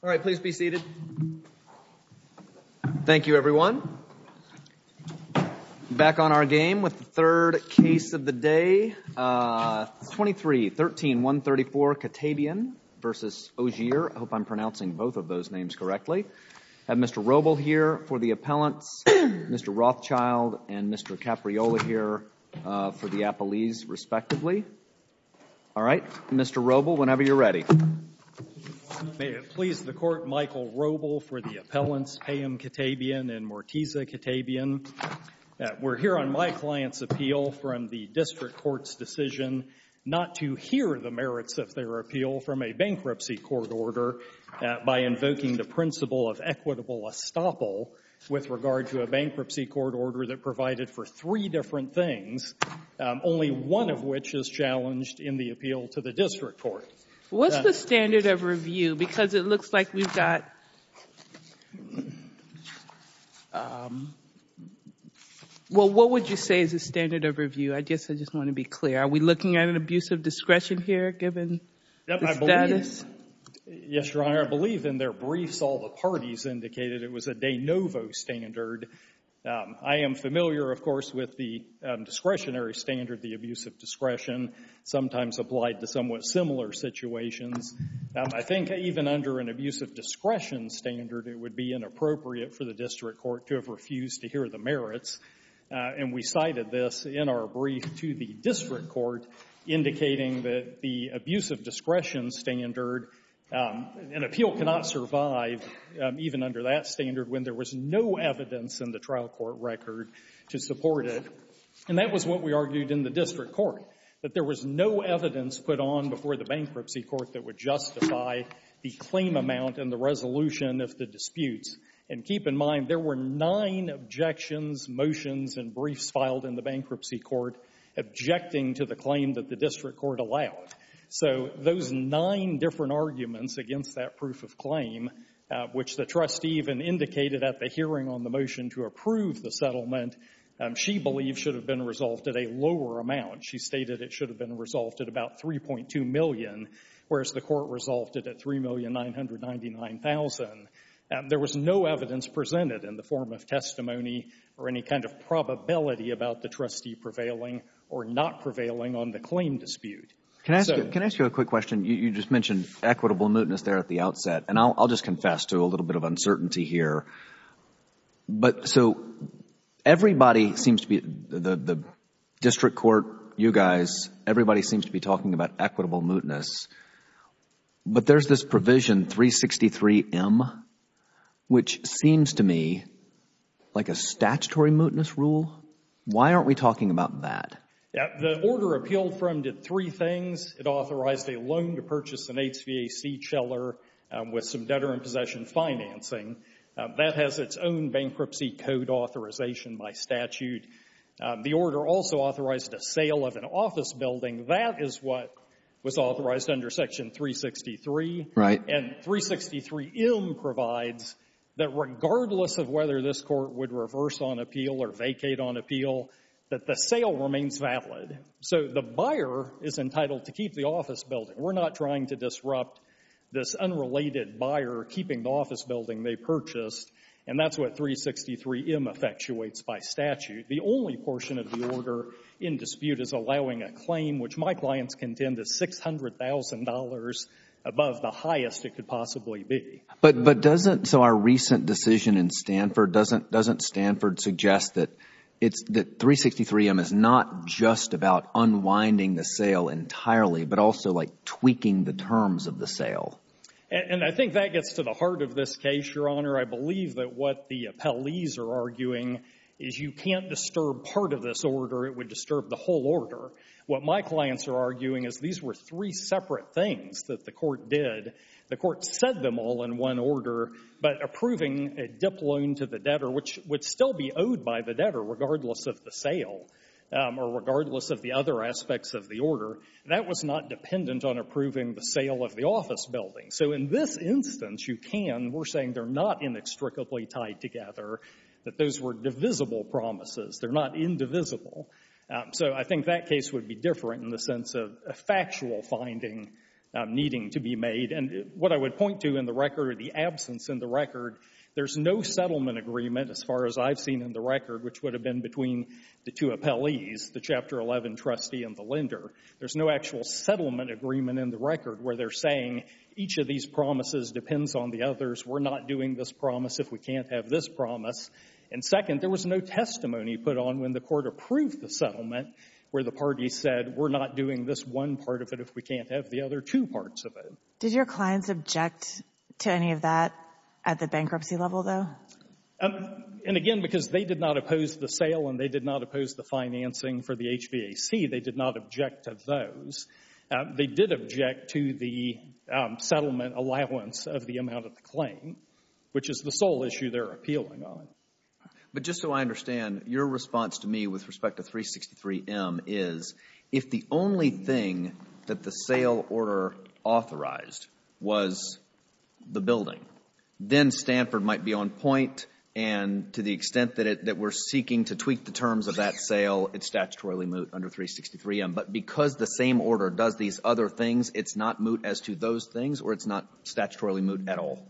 All right, please be seated. Thank you, everyone. Back on our game with the third case of the day. 23-13-134 Katebian v. Ogier. I hope I'm pronouncing both of those names correctly. I have Mr. Robel here for the appellants, Mr. Rothschild and Mr. Capriola here for the lees, respectively. All right. Mr. Robel, whenever you're ready. May it please the Court, Michael Robel for the appellants Payam Katebian and Mortiza Katebian. We're here on my client's appeal from the district court's decision not to hear the merits of their appeal from a bankruptcy court order by invoking the principle of equitable estoppel with regard to a bankruptcy court order that provided for three different things, only one of which is challenged in the appeal to the district court. What's the standard of review? Because it looks like we've got — well, what would you say is the standard of review? I guess I just want to be clear. Are we looking at an abuse of discretion here, given the status? Yes, Your Honor. I believe in their briefs all the parties indicated it was a de novo standard. I am familiar, of course, with the discretionary standard, the abuse of discretion, sometimes applied to somewhat similar situations. I think even under an abuse of discretion standard it would be inappropriate for the district court to have refused to hear the merits. And we cited this in our brief to the district court, indicating that the abuse of discretion standard, an appeal cannot survive even under that standard when there was no evidence in the trial court record to support it, and that was what we argued in the district court, that there was no evidence put on before the bankruptcy court that would justify the claim amount and the resolution of the disputes. And keep in mind, there were nine objections, motions, and briefs filed in the bankruptcy court objecting to the claim that the district court allowed. So those nine different arguments against that proof of claim, which the trustee even indicated at the hearing on the motion to approve the settlement, she believes should have been resolved at a lower amount. She stated it should have been resolved at about $3.2 million, whereas the court resolved it at $3,999,000. There was no evidence presented in the form of testimony or any kind of probability about the trustee prevailing or not prevailing on the claim dispute. So — Can I ask you a quick question? You just mentioned equitable mootness there at the outset. And I'll just confess to a little bit of uncertainty here. But so everybody seems to be — the district court, you guys, everybody seems to be talking about equitable mootness. But there's this provision, 363M, which seems to me like a statutory mootness rule. Why aren't we talking about that? The order appealed from did three things. It authorized a loan to purchase an HVAC chiller with some debtor in possession financing. That has its own bankruptcy code authorization by statute. The order also authorized a sale of an office building. That is what was authorized under Section 363. Right. And 363M provides that regardless of whether this court would reverse on appeal or vacate on appeal, that the sale remains valid. So the buyer is entitled to keep the office building. We're not trying to disrupt this unrelated buyer keeping the office building they purchased. And that's what 363M effectuates by statute. The only portion of the order in dispute is allowing a claim, which my clients contend is $600,000 above the highest it could possibly be. But doesn't so our recent decision in Stanford, doesn't Stanford suggest that 363M is not just about unwinding the sale entirely, but also like tweaking the terms of the sale? And I think that gets to the heart of this case, Your Honor. I believe that what the appellees are arguing is you can't disturb part of this order. It would disturb the whole order. What my clients are arguing is these were three separate things that the court did. The court said them all in one order, but approving a dip loan to the debtor, which would still be owed by the debtor regardless of the sale or regardless of the other aspects of the order, that was not dependent on approving the sale of the office building. So in this instance, you can. We're saying they're not inextricably tied together, that those were divisible promises. They're not indivisible. So I think that case would be different in the sense of a factual finding needing to be made. And what I would point to in the record or the absence in the record, there's no settlement agreement as far as I've seen in the record, which would have been between the two appellees, the Chapter 11 trustee and the lender. There's no actual settlement agreement in the record where they're saying each of these promises depends on the others. We're not doing this promise if we can't have this promise. And second, there was no testimony put on when the court approved the settlement where the party said, we're not doing this one part of it if we can't have the other two parts of it. Did your clients object to any of that at the bankruptcy level, though? And again, because they did not oppose the sale and they did not oppose the financing for the HVAC, they did not object to those. They did object to the settlement allowance of the amount of the claim, which is the sole issue they're appealing on. But just so I understand, your response to me with respect to 363M is, if the only thing that the sale order authorized was the building, then Stanford might be on point and to the extent that it we're seeking to tweak the terms of that sale, it's statutorily moot under 363M. But because the same order does these other things, it's not moot as to those things or it's not statutorily moot at all?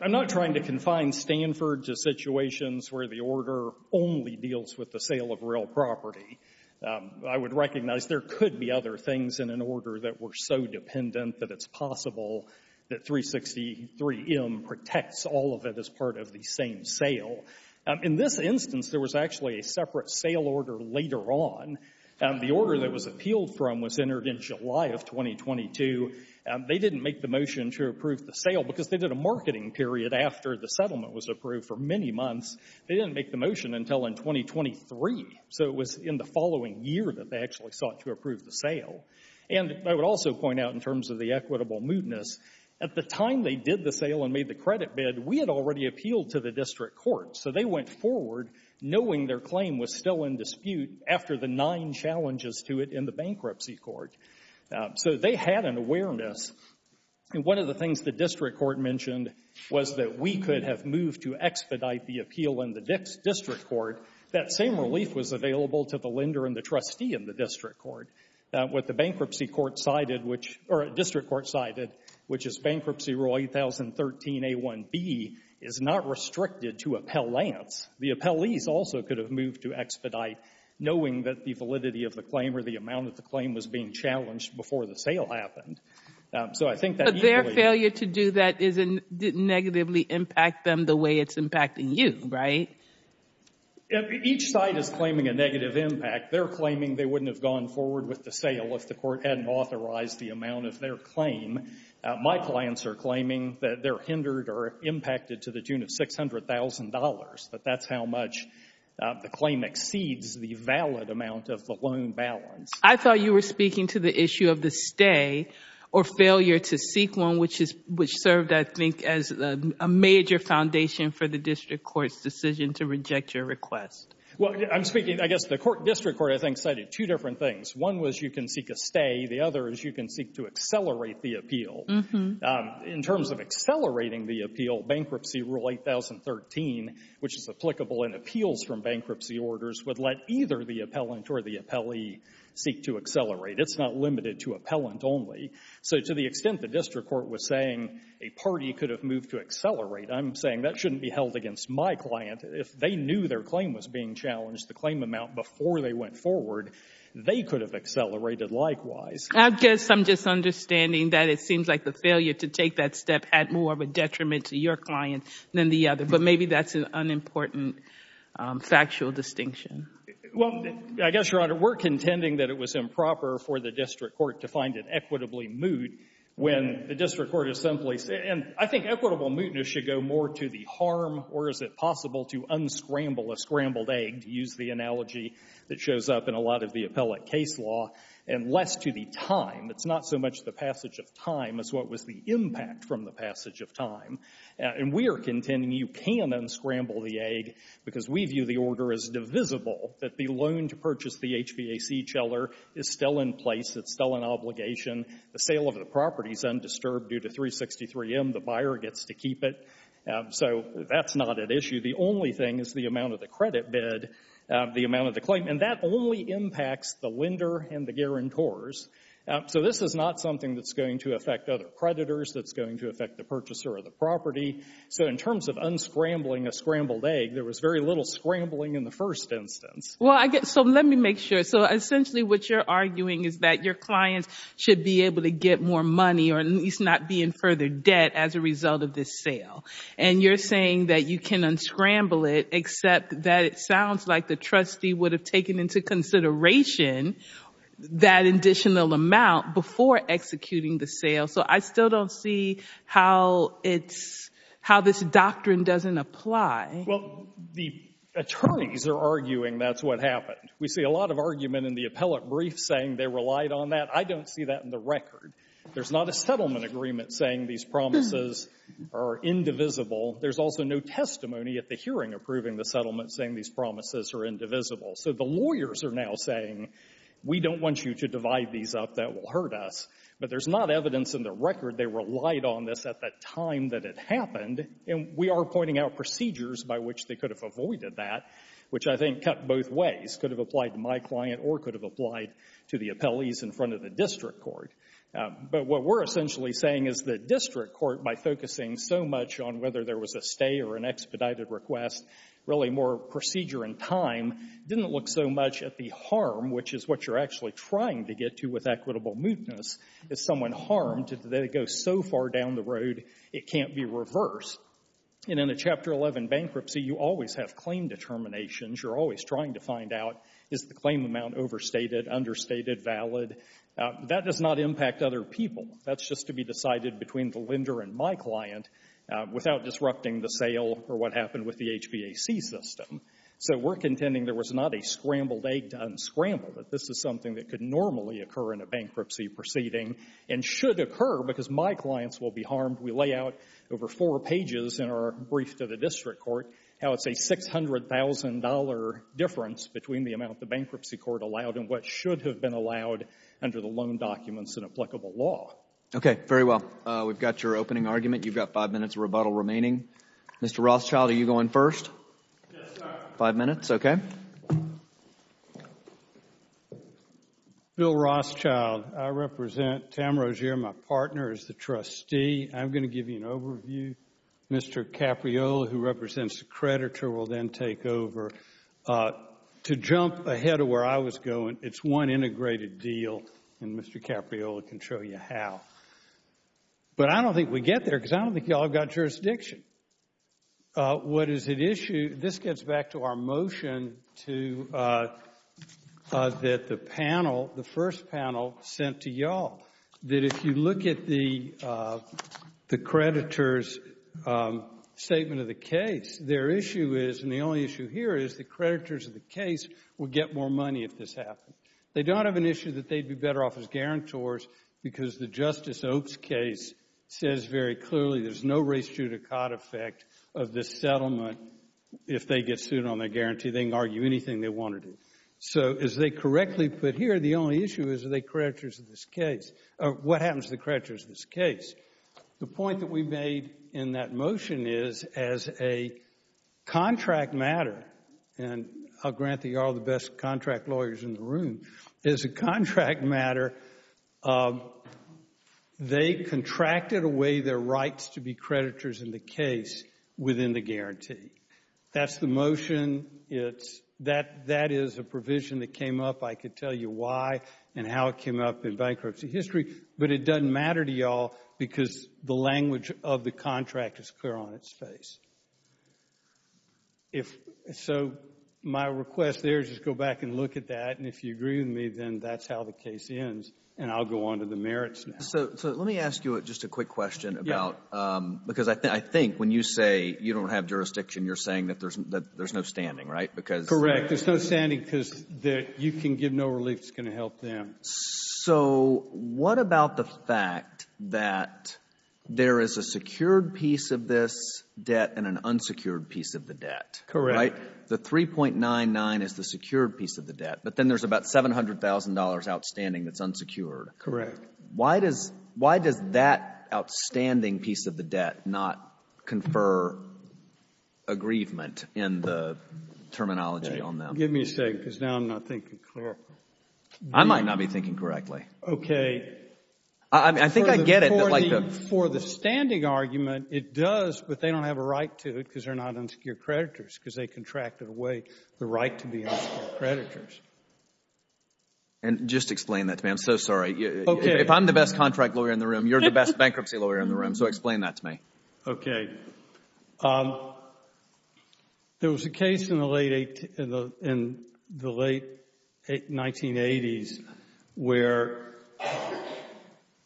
I'm not trying to confine Stanford to situations where the order only deals with the sale of real property. I would recognize there could be other things in an order that were so dependent that it's possible that 363M protects all of it as part of the same sale. In this instance, there was actually a separate sale order later on. The order that was appealed from was entered in July of 2022. They didn't make the motion to approve the sale because they did a marketing period after the settlement was approved for many months. They didn't make the motion until in 2023. So it was in the following year that they actually sought to approve the sale. And I would also point out in terms of the equitable mootness, at the time they did the sale and made the credit bid, we had already appealed to the district court. So they went forward knowing their claim was still in dispute after the nine challenges to it in the bankruptcy court. So they had an awareness. And one of the things the district court mentioned was that we could have moved to expedite the appeal in the district court. That same relief was available to the lender and the trustee in the district court. What the bankruptcy court cited, or district court cited, which is Bankruptcy Rule 8013A1B, is not restricted to appellants. The appellees also could have moved to expedite, knowing that the validity of the claim or the amount that the claim was being challenged before the sale happened. So I think that usually... But their failure to do that didn't negatively impact them the way it's impacting you, right? Each side is claiming a negative impact. They're claiming they wouldn't have gone forward with the sale if the court hadn't authorized the amount of their claim. My clients are claiming that they're hindered or impacted to the tune of $600,000, that that's how much the claim exceeds the valid amount of the loan balance. I thought you were speaking to the issue of the stay or failure to seek one, which served, I think, as a major foundation for the district court's decision to reject your request. Well, I'm speaking... I guess the district court, I think, cited two different things. One was you can seek a stay. The other is you can seek to accelerate the appeal. In terms of accelerating the appeal, Bankruptcy Rule 8013, which is applicable in appeals from bankruptcy orders, would let either the appellant or the appellee seek to accelerate. It's not limited to appellant only. So to the extent the district court was saying a party could have moved to accelerate, I'm saying that shouldn't be held against my client. If they knew their claim was being challenged, the claim amount before they went forward, they could have accelerated likewise. I guess I'm just understanding that it seems like the failure to take that step had more of a detriment to your client than the other. But maybe that's an unimportant factual distinction. Well, I guess, Your Honor, we're contending that it was improper for the district court to find it equitably moot when the district court is simply... And I think equitable mootness should go more to the harm, or is it possible to unscramble a scrambled egg, to use the analogy that shows up in a lot of the appellate case law, and less to the time. It's not so much the passage of time as what was the impact from the passage of time. And we are contending you can unscramble the egg because we view the order as divisible, that the loan to purchase the HVAC chiller is still in place. It's still an obligation. The sale of the property is undisturbed due to 363M. The buyer gets to keep it. So that's not at issue. The only thing is the amount of the credit bid, the amount of the claim. And that only impacts the lender and the guarantors. So this is not something that's going to affect other creditors, that's going to affect the purchaser of the property. So in terms of unscrambling a scrambled egg, there was very little scrambling in the first instance. Well, I guess... So let me make sure. So essentially what you're arguing is that your client should be able to get more money, or at least not be in further debt as a result of this sale. And you're saying that you can unscramble it, except that it sounds like the trustee would have taken into consideration that additional amount before executing the sale. So I still don't see how it's — how this doctrine doesn't apply. Well, the attorneys are arguing that's what happened. We see a lot of argument in the appellate brief saying they relied on that. I don't see that in the record. There's not a settlement agreement saying these promises are indivisible. There's also no testimony at the hearing approving the settlement saying these promises are indivisible. So the lawyers are now saying, we don't want you to divide these up. That will hurt us. But there's not evidence in the record they relied on this at the time that it happened. And we are pointing out procedures by which they could have avoided that, which I think cut both ways, could have applied to my client or could have applied to the appellees in front of the district court. But what we're essentially saying is the district court, by focusing so much on whether there was a stay or an expedited request, really more procedure and time, didn't look so much at the harm, which is what you're actually trying to get to with equitable mootness. If someone harmed, they go so far down the road it can't be reversed. And in a Chapter 11 bankruptcy, you always have claim determinations. You're always trying to find out, is the claim amount overstated, understated, valid? That does not impact other people. That's just to be decided between the lender and my client without disrupting the sale or what happened with the HBAC system. So we're contending there was not a scrambled egg to unscramble, that this is something that could normally occur in a bankruptcy proceeding and should occur, because my clients will be harmed. We lay out over four pages in our brief to the district court how it's a $600,000 difference between the amount the bankruptcy court allowed and what should have been allowed under the loan documents and applicable law. Okay, very well. We've got your opening argument. You've got five minutes of rebuttal remaining. Mr. Rothschild, are you going first? Five minutes, okay. Bill Rothschild, I represent Tamra Jere. My partner is the trustee. I'm going to give you an overview. Mr. Capriola, who represents the creditor, will then take over. To jump ahead of where I was going, it's one integrated deal, and Mr. Capriola can show you how. But I don't think we get there, because I don't think you all have got jurisdiction. What is at issue, this gets back to our motion that the panel, the first panel, sent to you all, that if you look at the creditor's statement of the case, their issue is, and the only issue here is, the creditors of the case will get more money if this happens. They don't have an issue that they'd be better off as guarantors, because the Justice Oaks case says very clearly there's no res judicata effect of this settlement. If they get sued on their guarantee, they can argue anything they want to do. So, as they correctly put here, the only issue is, are they creditors of this case? What happens to the creditors of this case? The point that we made in that motion is, as a contract matter, and I'll grant that you're all the best contract lawyers in the room, as a contract matter, they contracted away their rights to be creditors in the case within the guarantee. That's the motion. That is a provision that came up. I could tell you why and how it came up in bankruptcy history, but it doesn't matter to you all, because the language of the contract is clear on its face. So, my request there is just go back and look at that, and if you agree with me, then that's how the case ends, and I'll go on to the merits now. So, let me ask you just a quick question about, because I think when you say you don't have jurisdiction, you're saying that there's no standing, right? Correct. There's no standing, because you can give no relief that's going to help them. So, what about the fact that there is a secured piece of this debt and an unsecured piece of the debt? Right? The 3.99 is the secured piece of the debt, but then there's about $700,000 outstanding that's unsecured. Correct. Why does that outstanding piece of the debt not confer aggrievement in the terminology on them? Give me a second, because now I'm not thinking clearly. I might not be thinking correctly. I think I get it. For the standing argument, it does, but they don't have a right to it because they're not unsecured creditors, because they contracted away the right to be unsecured creditors. And just explain that to me. I'm so sorry. Okay. If I'm the best contract lawyer in the room, you're the best bankruptcy lawyer in the room, so explain that to me. Okay. There was a case in the late 1980s where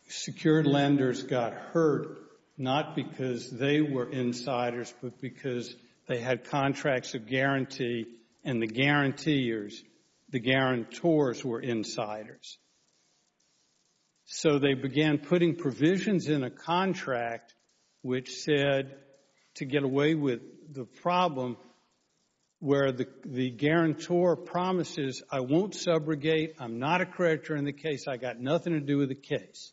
secured lenders got hurt, not because they were insiders, but because they had contracts of guarantee, and the guarantors were insiders. So they began putting provisions in a contract which said to get away with the problem where the guarantor promises, I won't subrogate, I'm not a creditor in the case, I've got nothing to do with the case.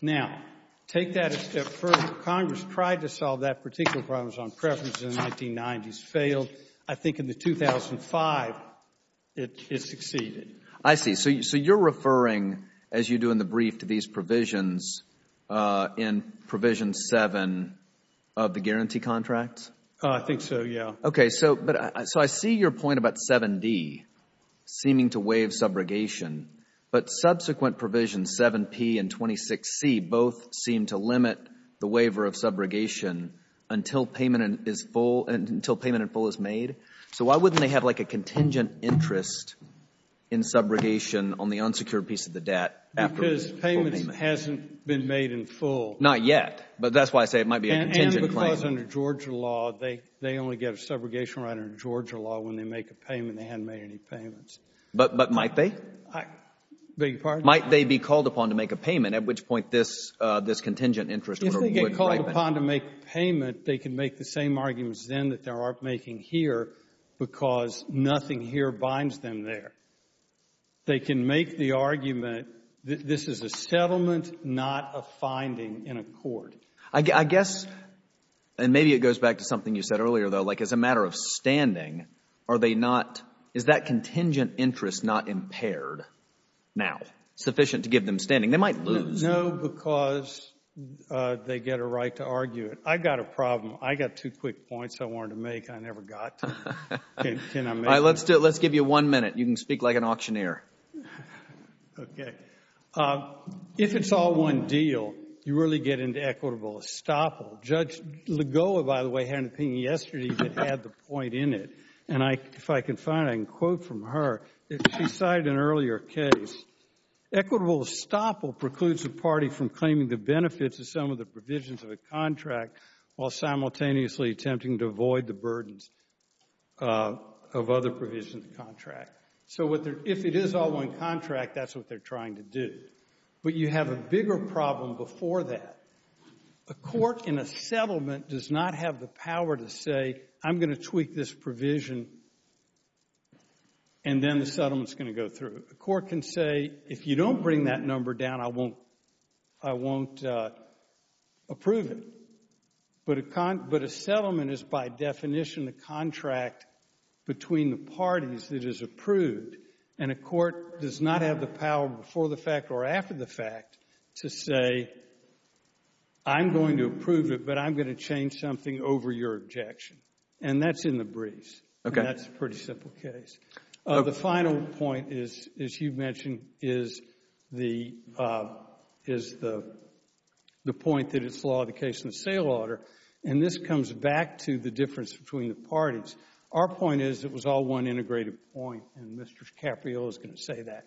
Now, take that a step further. Congress tried to solve that particular problem on preferences in the 1990s, failed. I think in the 2005, it succeeded. I see. So you're referring, as you do in the brief, to these provisions in provision 7 of the guarantee contracts? I think so, yeah. Okay. So I see your point about 7D seeming to waive subrogation, but subsequent provisions 7P and 26C both seem to limit the waiver of subrogation until payment in full is made. So why wouldn't they have, like, a contingent interest in subrogation on the unsecured piece of the debt after the full payment? Because payment hasn't been made in full. Not yet. But that's why I say it might be a contingent claim. And because under Georgia law, they only get a subrogation right under Georgia law when they make a payment. They haven't made any payments. But might they? I beg your pardon? Might they be called upon to make a payment, at which point this contingent interest would have been right? If they get called upon to make a payment, they can make the same arguments then that they're making here because nothing here binds them there. They can make the argument that this is a settlement, not a finding in a court. I guess, and maybe it goes back to something you said earlier, though, like, as a matter of standing, are they not, is that contingent interest not impaired now, sufficient to give them standing? They might lose. No, because they get a right to argue it. I've got a problem. I've got two quick points. I wanted to make. I never got to. Can I make them? Let's give you one minute. You can speak like an auctioneer. Okay. If it's all one deal, you really get into equitable estoppel. Judge Legola, by the way, had an opinion yesterday that had the point in it. And if I can find it, I can quote from her. If she cited an earlier case, equitable estoppel precludes the party from claiming the benefits of some of the provisions of a contract while simultaneously attempting to avoid the burdens of other provisions of the contract. So if it is all one contract, that's what they're trying to do. But you have a bigger problem before that. A court in a settlement does not have the power to say, I'm going to tweak this provision, and then the settlement's going to go through. A court can say, if you don't bring that number down, I won't approve it. But a settlement is, by definition, a contract between the parties that is approved. And a court does not have the power before the fact or after the fact to say, I'm going to approve it, but I'm going to change something over your objection. And that's in the briefs. And that's a pretty simple case. The final point is, as you mentioned, is the point that it's the law of the case and the sale order. And this comes back to the difference between the parties. Our point is, it was all one integrated point. And Mr. Caprio is going to say that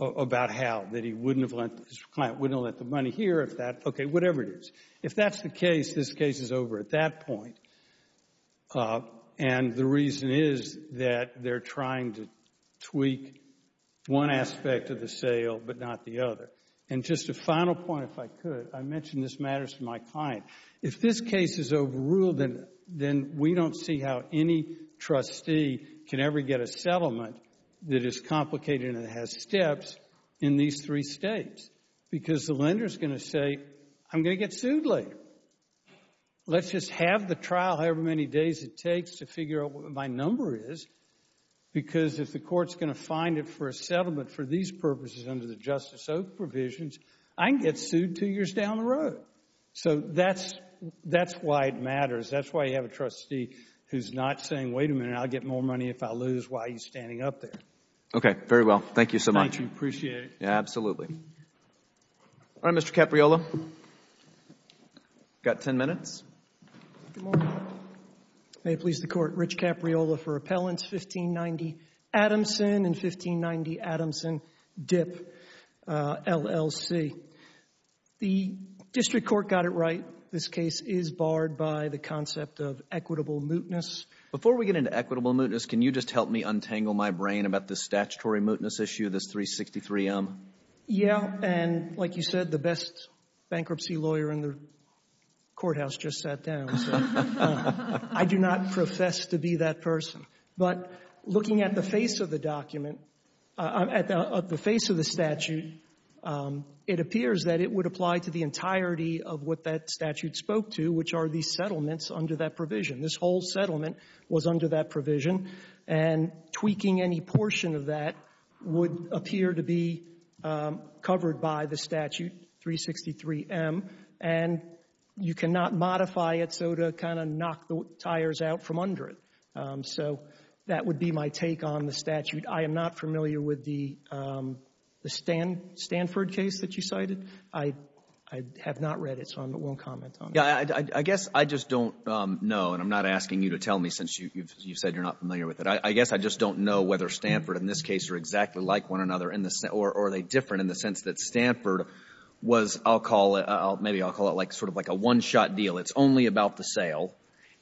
about how, that he wouldn't have lent, his client wouldn't have lent the money here if that, okay, whatever it is. If that's the case, this case is over at that point. And the reason is that they're trying to tweak one aspect of the sale but not the other. And just a final point, if I could. I mentioned this matters to my client. If this case is overruled, then we don't see how any trustee can ever get a settlement that is complicated and has steps in these three states. Because the lender's going to say, I'm going to get sued later. So, let's just have the trial however many days it takes to figure out what my number is because if the court's going to find it for a settlement for these purposes under the Justice Oak provisions, I can get sued two years down the road. So, that's why it matters. That's why you have a trustee who's not saying, wait a minute, I'll get more money if I lose while he's standing up there. Okay. Very well. Thank you so much. Thank you. Appreciate it. Yeah, absolutely. All right, Mr. Capriolo. Got 10 minutes. Good morning. May it please the Court. Rich Capriolo for Appellants, 1590 Adamson and 1590 Adamson Dip, LLC. The district court got it right. This case is barred by the concept of equitable mootness. Before we get into equitable mootness, can you just help me untangle my brain about this statutory mootness issue, this 363M? Yeah, and like you said, the best bankruptcy lawyer in the courthouse just sat down, so I do not profess to be that person. But looking at the face of the document, at the face of the statute, it appears that it would apply to the entirety of what that statute spoke to, which are these settlements under that provision. This whole settlement was under that provision, and tweaking any portion of that would appear to be covered by the statute, 363M, and you cannot modify it so to kind of knock the tires out from under it. So that would be my take on the statute. I am not familiar with the Stanford case that you cited. I have not read it, so I won't comment on it. Yeah, I guess I just don't know, and I'm not asking you to tell me since you've said you're not familiar with it. I guess I just don't know whether Stanford in this case are exactly like one another in the sense, or are they different in the sense that Stanford was, I'll call it, maybe I'll call it like sort of like a one-shot deal. It's only about the sale,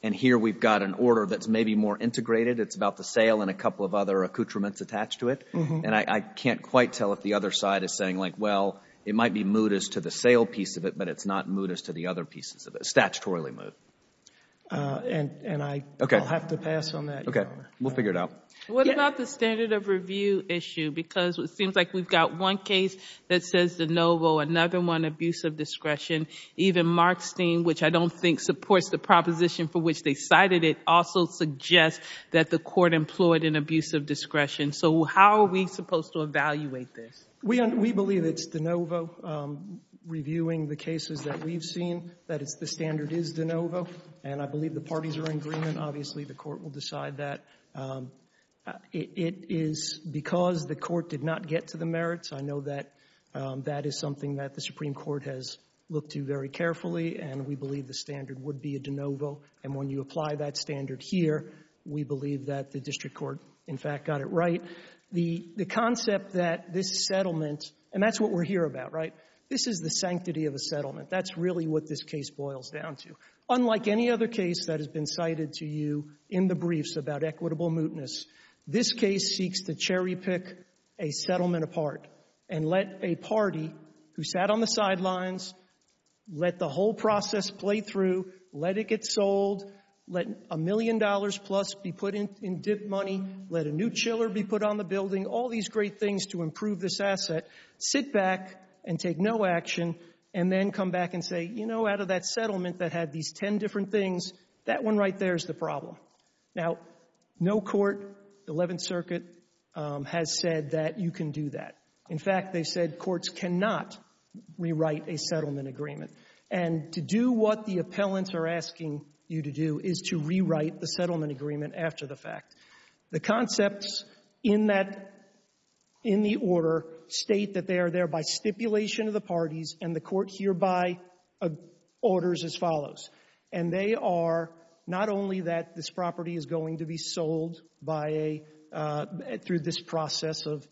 and here we've got an order that's maybe more integrated. It's about the sale and a couple of other accoutrements attached to it. And I can't quite tell if the other side is saying like, well, it might be moot as to the sale piece of it, but it's not moot as to the other pieces of it, statutorily moot. And I'll have to pass on that. OK, we'll figure it out. What about the standard of review issue? Because it seems like we've got one case that says de novo, another one, abuse of Even Markstein, which I don't think supports the proposition for which they cited it, also suggests that the court employed an abuse of discretion. So how are we supposed to evaluate this? We believe it's de novo, reviewing the cases that we've seen, that the standard is de novo. And I believe the parties are in agreement. Obviously, the court will decide that. It is because the court did not get to the merits. I know that that is something that the Supreme Court has looked to very carefully, and we believe the standard would be a de novo. And when you apply that standard here, we believe that the district court, in fact, got it right. The concept that this settlement, and that's what we're here about, right? This is the sanctity of a settlement. That's really what this case boils down to. Unlike any other case that has been cited to you in the briefs about equitable mootness, this case seeks to cherry pick a settlement apart and let a party who sat on the sidelines, let the whole process play through, let it get sold, let a million dollars plus be put in dip money, let a new chiller be put on the building, all these great things to improve this asset, sit back and take no action and then come back and say, you know, out of that settlement that had these ten different things, that one right there is the problem. Now, no court, the Eleventh Circuit, has said that you can do that. In fact, they said courts cannot rewrite a settlement agreement. And to do what the appellants are asking you to do is to rewrite the settlement agreement after the fact. The concepts in that — in the order state that they are there by stipulation of the parties and the court hereby orders as follows. And they are not only that this property is going to be sold by a — through this process of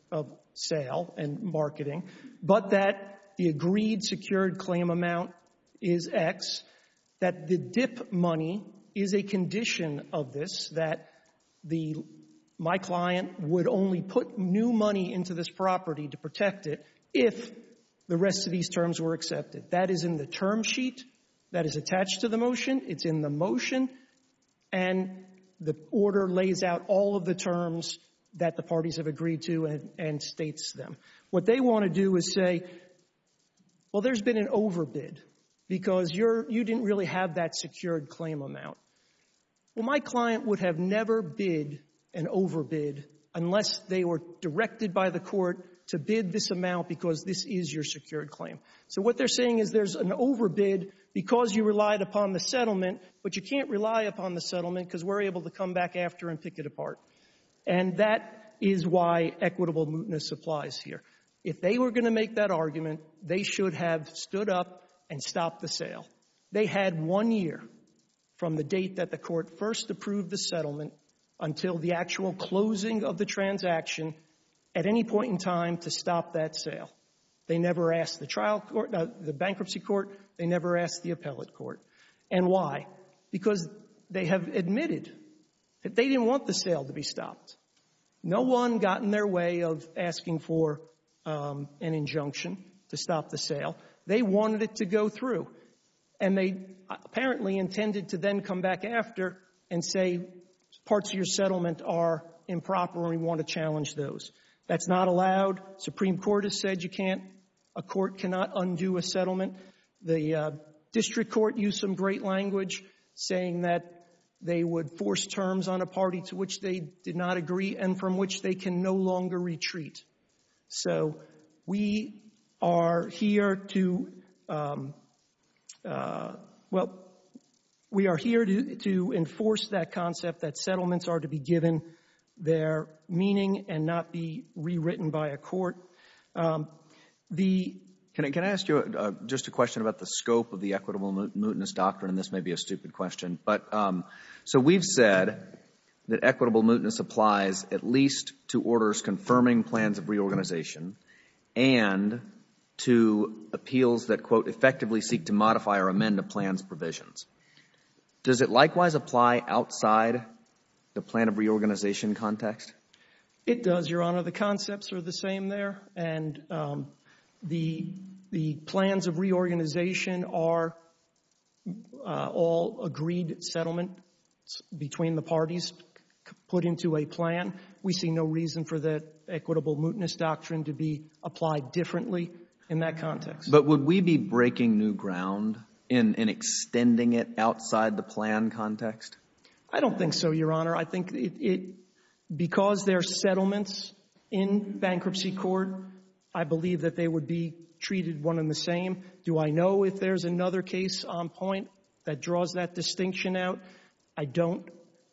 sale and marketing, but that the agreed secured claim amount is X, that the dip money is a condition of this, that the — my client would only put new money into this property to protect it if the rest of these terms were accepted. That is in the term sheet. That is attached to the motion. It's in the motion. And the order lays out all of the terms that the parties have agreed to and states them. What they want to do is say, well, there's been an overbid because you're — you didn't really have that secured claim amount. Well, my client would have never bid an overbid unless they were directed by the court to bid this amount because this is your secured claim. So what they're saying is there's an overbid because you relied upon the settlement, but you can't rely upon the settlement because we're able to come back after and pick it apart. And that is why equitable mootness applies here. If they were going to make that argument, they should have stood up and stopped the sale. They had one year from the date that the court first approved the settlement until the actual closing of the transaction at any point in time to stop that sale. They never asked the trial court — the bankruptcy court. They never asked the appellate court. And why? Because they have admitted that they didn't want the sale to be stopped. No one got in their way of asking for an injunction to stop the sale. They wanted it to go through, and they apparently intended to then come back after and say parts of your settlement are improper and we want to challenge those. That's not allowed. Supreme Court has said you can't — a court cannot undo a settlement. The district court used some great language saying that they would force terms on a party to which they did not agree and from which they can no longer retreat. So we are here to — well, we are here to enforce that concept that settlements are to be given their meaning and not be rewritten by a court. The — Can I ask you just a question about the scope of the equitable mootness doctrine? This may be a stupid question, but — so we've said that equitable mootness applies at least to orders confirming plans of reorganization and to appeals that, quote, effectively seek to modify or amend a plan's provisions. Does it likewise apply outside the plan of reorganization context? It does, Your Honor. The concepts are the same there, and the plans of reorganization are all agreed settlement between the parties put into a plan. We see no reason for the equitable mootness doctrine to be applied differently in that context. But would we be breaking new ground in extending it outside the plan context? I don't think so, Your Honor. I think it — because they're settlements in bankruptcy court, I believe that they would be treated one and the same. Do I know if there's another case on point that draws that distinction out? I don't.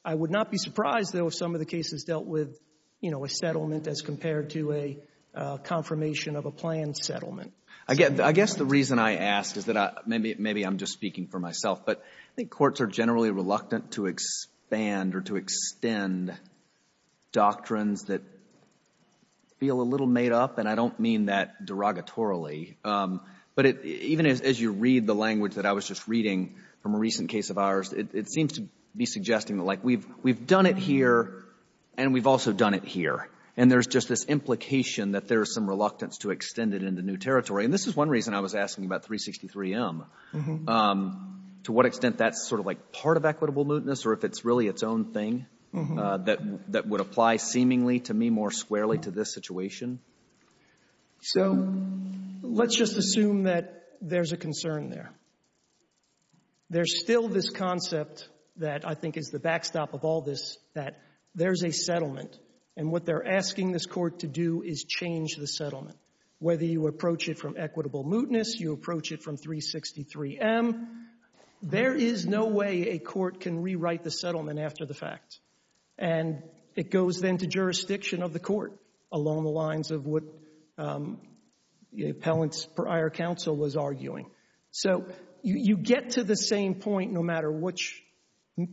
I would not be surprised, though, if some of the cases dealt with, you know, a settlement as compared to a confirmation of a planned settlement. Again, I guess the reason I ask is that I — maybe I'm just speaking for myself, but I think courts are generally reluctant to expand or to extend doctrines that feel a little made up, and I don't mean that derogatorily. But even as you read the language that I was just reading from a recent case of ours, it seems to be suggesting that, like, we've done it here, and we've also done it here, and there's just this implication that there's some reluctance to extend it into new territory. And this is one reason I was asking about 363M, to what extent that's sort of like part of equitable mootness or if it's really its own thing that would apply seemingly to me more squarely to this situation. So let's just assume that there's a concern there. There's still this concept that I think is the backstop of all this, that there's a settlement, and what they're asking this court to do is change the settlement. Whether you approach it from equitable mootness, you approach it from 363M, there is no way a court can rewrite the settlement after the fact. And it goes then to jurisdiction of the court along the lines of what the Appellant's prior counsel was arguing. So you get to the same point no matter which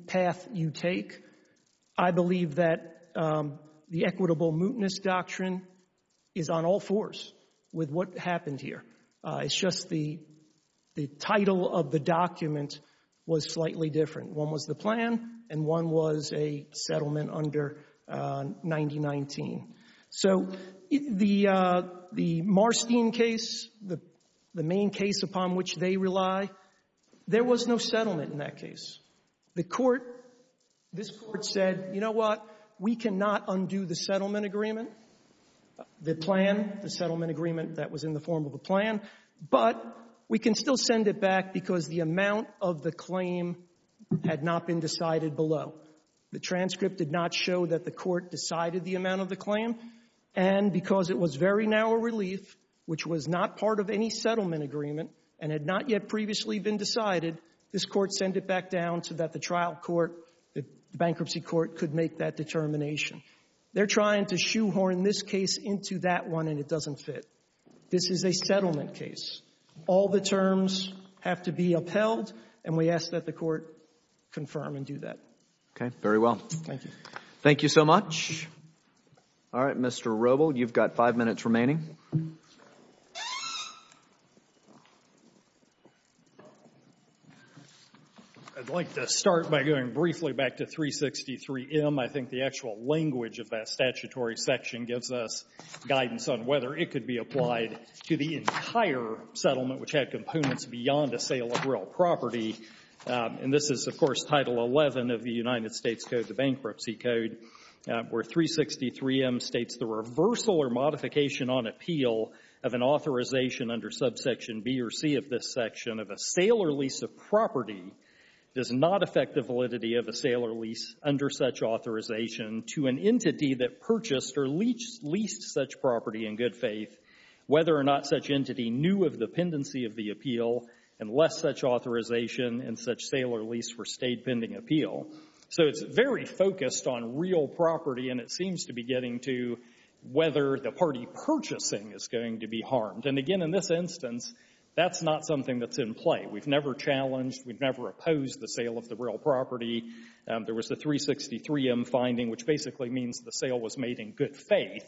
path you take. I believe that the equitable mootness doctrine is on all fours with what happened here. It's just the title of the document was slightly different. One was the plan and one was a settlement under 9019. So the Marstein case, the main case upon which they rely, there was no settlement in that case. The court, this court said, you know what, we cannot undo the settlement agreement, the plan, the settlement agreement that was in the form of a plan, but we can still send it back because the amount of the claim had not been decided below. The transcript did not show that the court decided the amount of the claim, and because it was very narrow relief, which was not part of any settlement agreement, and had not yet previously been decided, this court sent it back down so that the trial court, the bankruptcy court, could make that determination. They're trying to shoehorn this case into that one and it doesn't fit. This is a settlement case. All the terms have to be upheld and we ask that the court confirm and do that. Okay. Very well. Thank you. Thank you so much. All right. Mr. Robel, you've got five minutes remaining. I'd like to start by going briefly back to 363M. I think the actual language of that statutory section gives us guidance on whether it could be applied to the entire settlement, which had components beyond a sale of real property. And this is, of course, Title 11 of the United States Code, the Bankruptcy Code, where 363M states the reversal or modification on appeal of an authorization under subsection B or C of this section of a sale or lease of property does not affect the validity of a sale or lease under such authorization to an entity that purchased or leased such property in good faith, whether or not such entity knew of the pendency of the appeal and less such authorization in such sale or lease for state pending appeal. So it's very focused on real property and it seems to be getting to whether the party purchasing is going to be harmed. And again, in this instance, that's not something that's in play. We've never challenged, we've never opposed the sale of the real property. There was the 363M finding, which basically means the sale was made in good faith,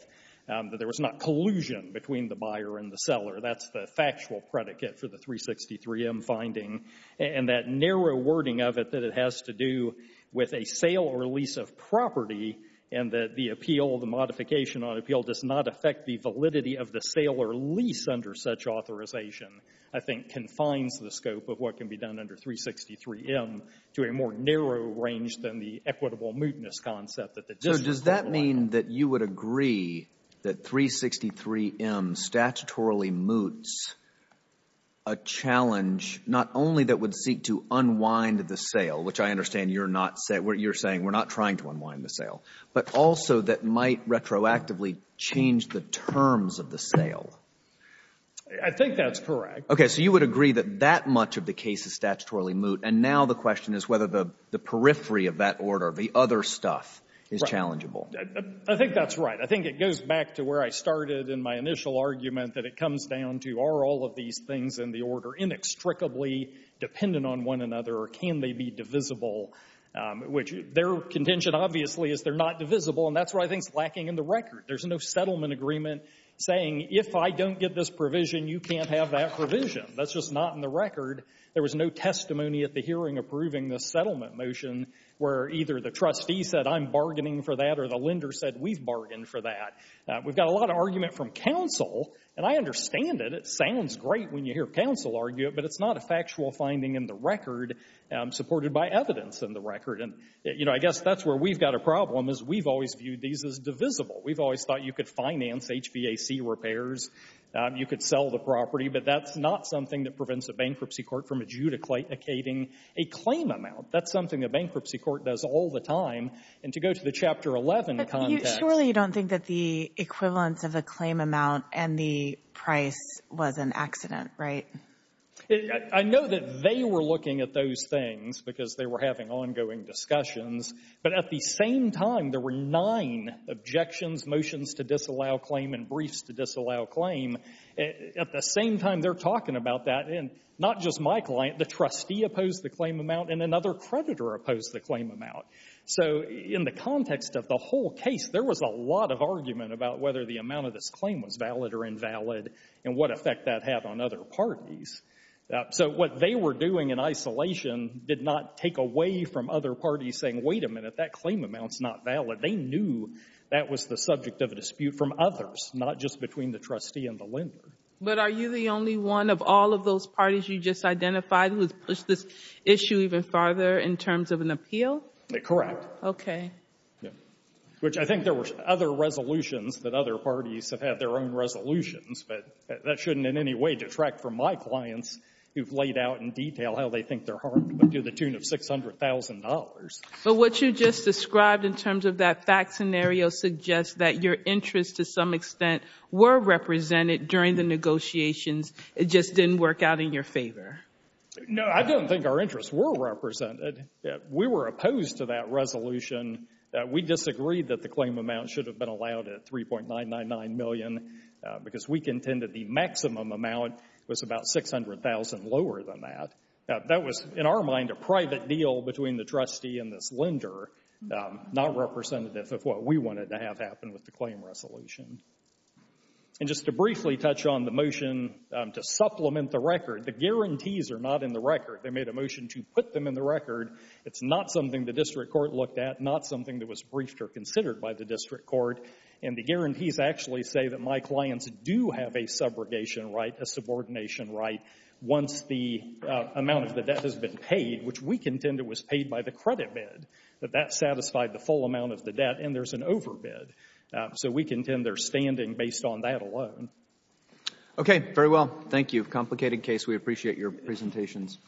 that there was not collusion between the buyer and the seller. That's the factual predicate for the 363M finding. And that narrow wording of it that it has to do with a sale or lease of property and that the appeal, the modification on appeal, does not affect the validity of the sale or lease under such authorization, I think confines the scope of what can be done under 363M to a more narrow range than the equitable mootness concept. So does that mean that you would agree that 363M statutorily moots a challenge not only that would seek to unwind the sale, which I understand you're not saying, you're saying we're not trying to unwind the sale, but also that might retroactively change the terms of the sale? I think that's correct. Okay, so you would agree that that much of the case is statutorily moot and now the question is whether the periphery of that order, the other stuff, is challengeable. I think that's right. I think it goes back to where I started in my initial argument that it comes down to are all of these things in the order inextricably dependent on one another or can they be divisible? Which their contention obviously is they're not divisible and that's what I think is lacking in the record. There's no settlement agreement saying if I don't get this provision, you can't have that provision. That's just not in the record. There was no testimony at the hearing approving this settlement motion where either the trustee said I'm bargaining for that or the lender said we've bargained for that. We've got a lot of argument from counsel and I understand it. It sounds great when you hear counsel argue it, but it's not a factual finding in the record supported by evidence in the record. And, you know, I guess that's where we've got a problem is we've always viewed these as divisible. We've always thought you could finance HVAC repairs, you could sell the property, but that's not something that prevents a bankruptcy court from adjudicating a claim amount. That's something a bankruptcy court does all the time. And to go to the Chapter 11 context— But surely you don't think that the equivalence of a claim amount and the price was an accident, right? I know that they were looking at those things because they were having ongoing discussions, but at the same time there were nine objections, motions to disallow claim and briefs to disallow claim. At the same time they're talking about that, and not just my client, the trustee opposed the claim amount and another creditor opposed the claim amount. So in the context of the whole case, there was a lot of argument about whether the amount of this claim was valid or invalid and what effect that had on other parties. So what they were doing in isolation did not take away from other parties saying, wait a minute, that claim amount's not valid. They knew that was the subject of a dispute from others, not just between the trustee and the lender. But are you the only one of all of those parties you just identified who has pushed this issue even farther in terms of an appeal? Correct. Okay. Which I think there were other resolutions that other parties have had their own resolutions, but that shouldn't in any way detract from my clients who've laid out in detail how they think they're harmed up to the tune of $600,000. But what you just described in terms of that fact scenario suggests that your interests, to some extent, were represented during the negotiations. It just didn't work out in your favor. No, I don't think our interests were represented. We were opposed to that resolution. We disagreed that the claim amount should have been allowed at $3.999 million because we contended the maximum amount was about $600,000 lower than that. That was, in our mind, a private deal between the trustee and this lender, not representative of what we wanted to have happen with the claim resolution. And just to briefly touch on the motion to supplement the record, the guarantees are not in the record. They made a motion to put them in the record. It's not something the district court looked at, not something that was briefed or considered by the district court. And the guarantees actually say that my clients do have a subrogation right, a subordination right, once the amount of the debt has been paid, which we contended was paid by the credit bid, that that satisfied the full amount of the debt, and there's an overbid. So we contend they're standing based on that alone. Okay. Very well. Thank you. Complicated case. We appreciate your presentations.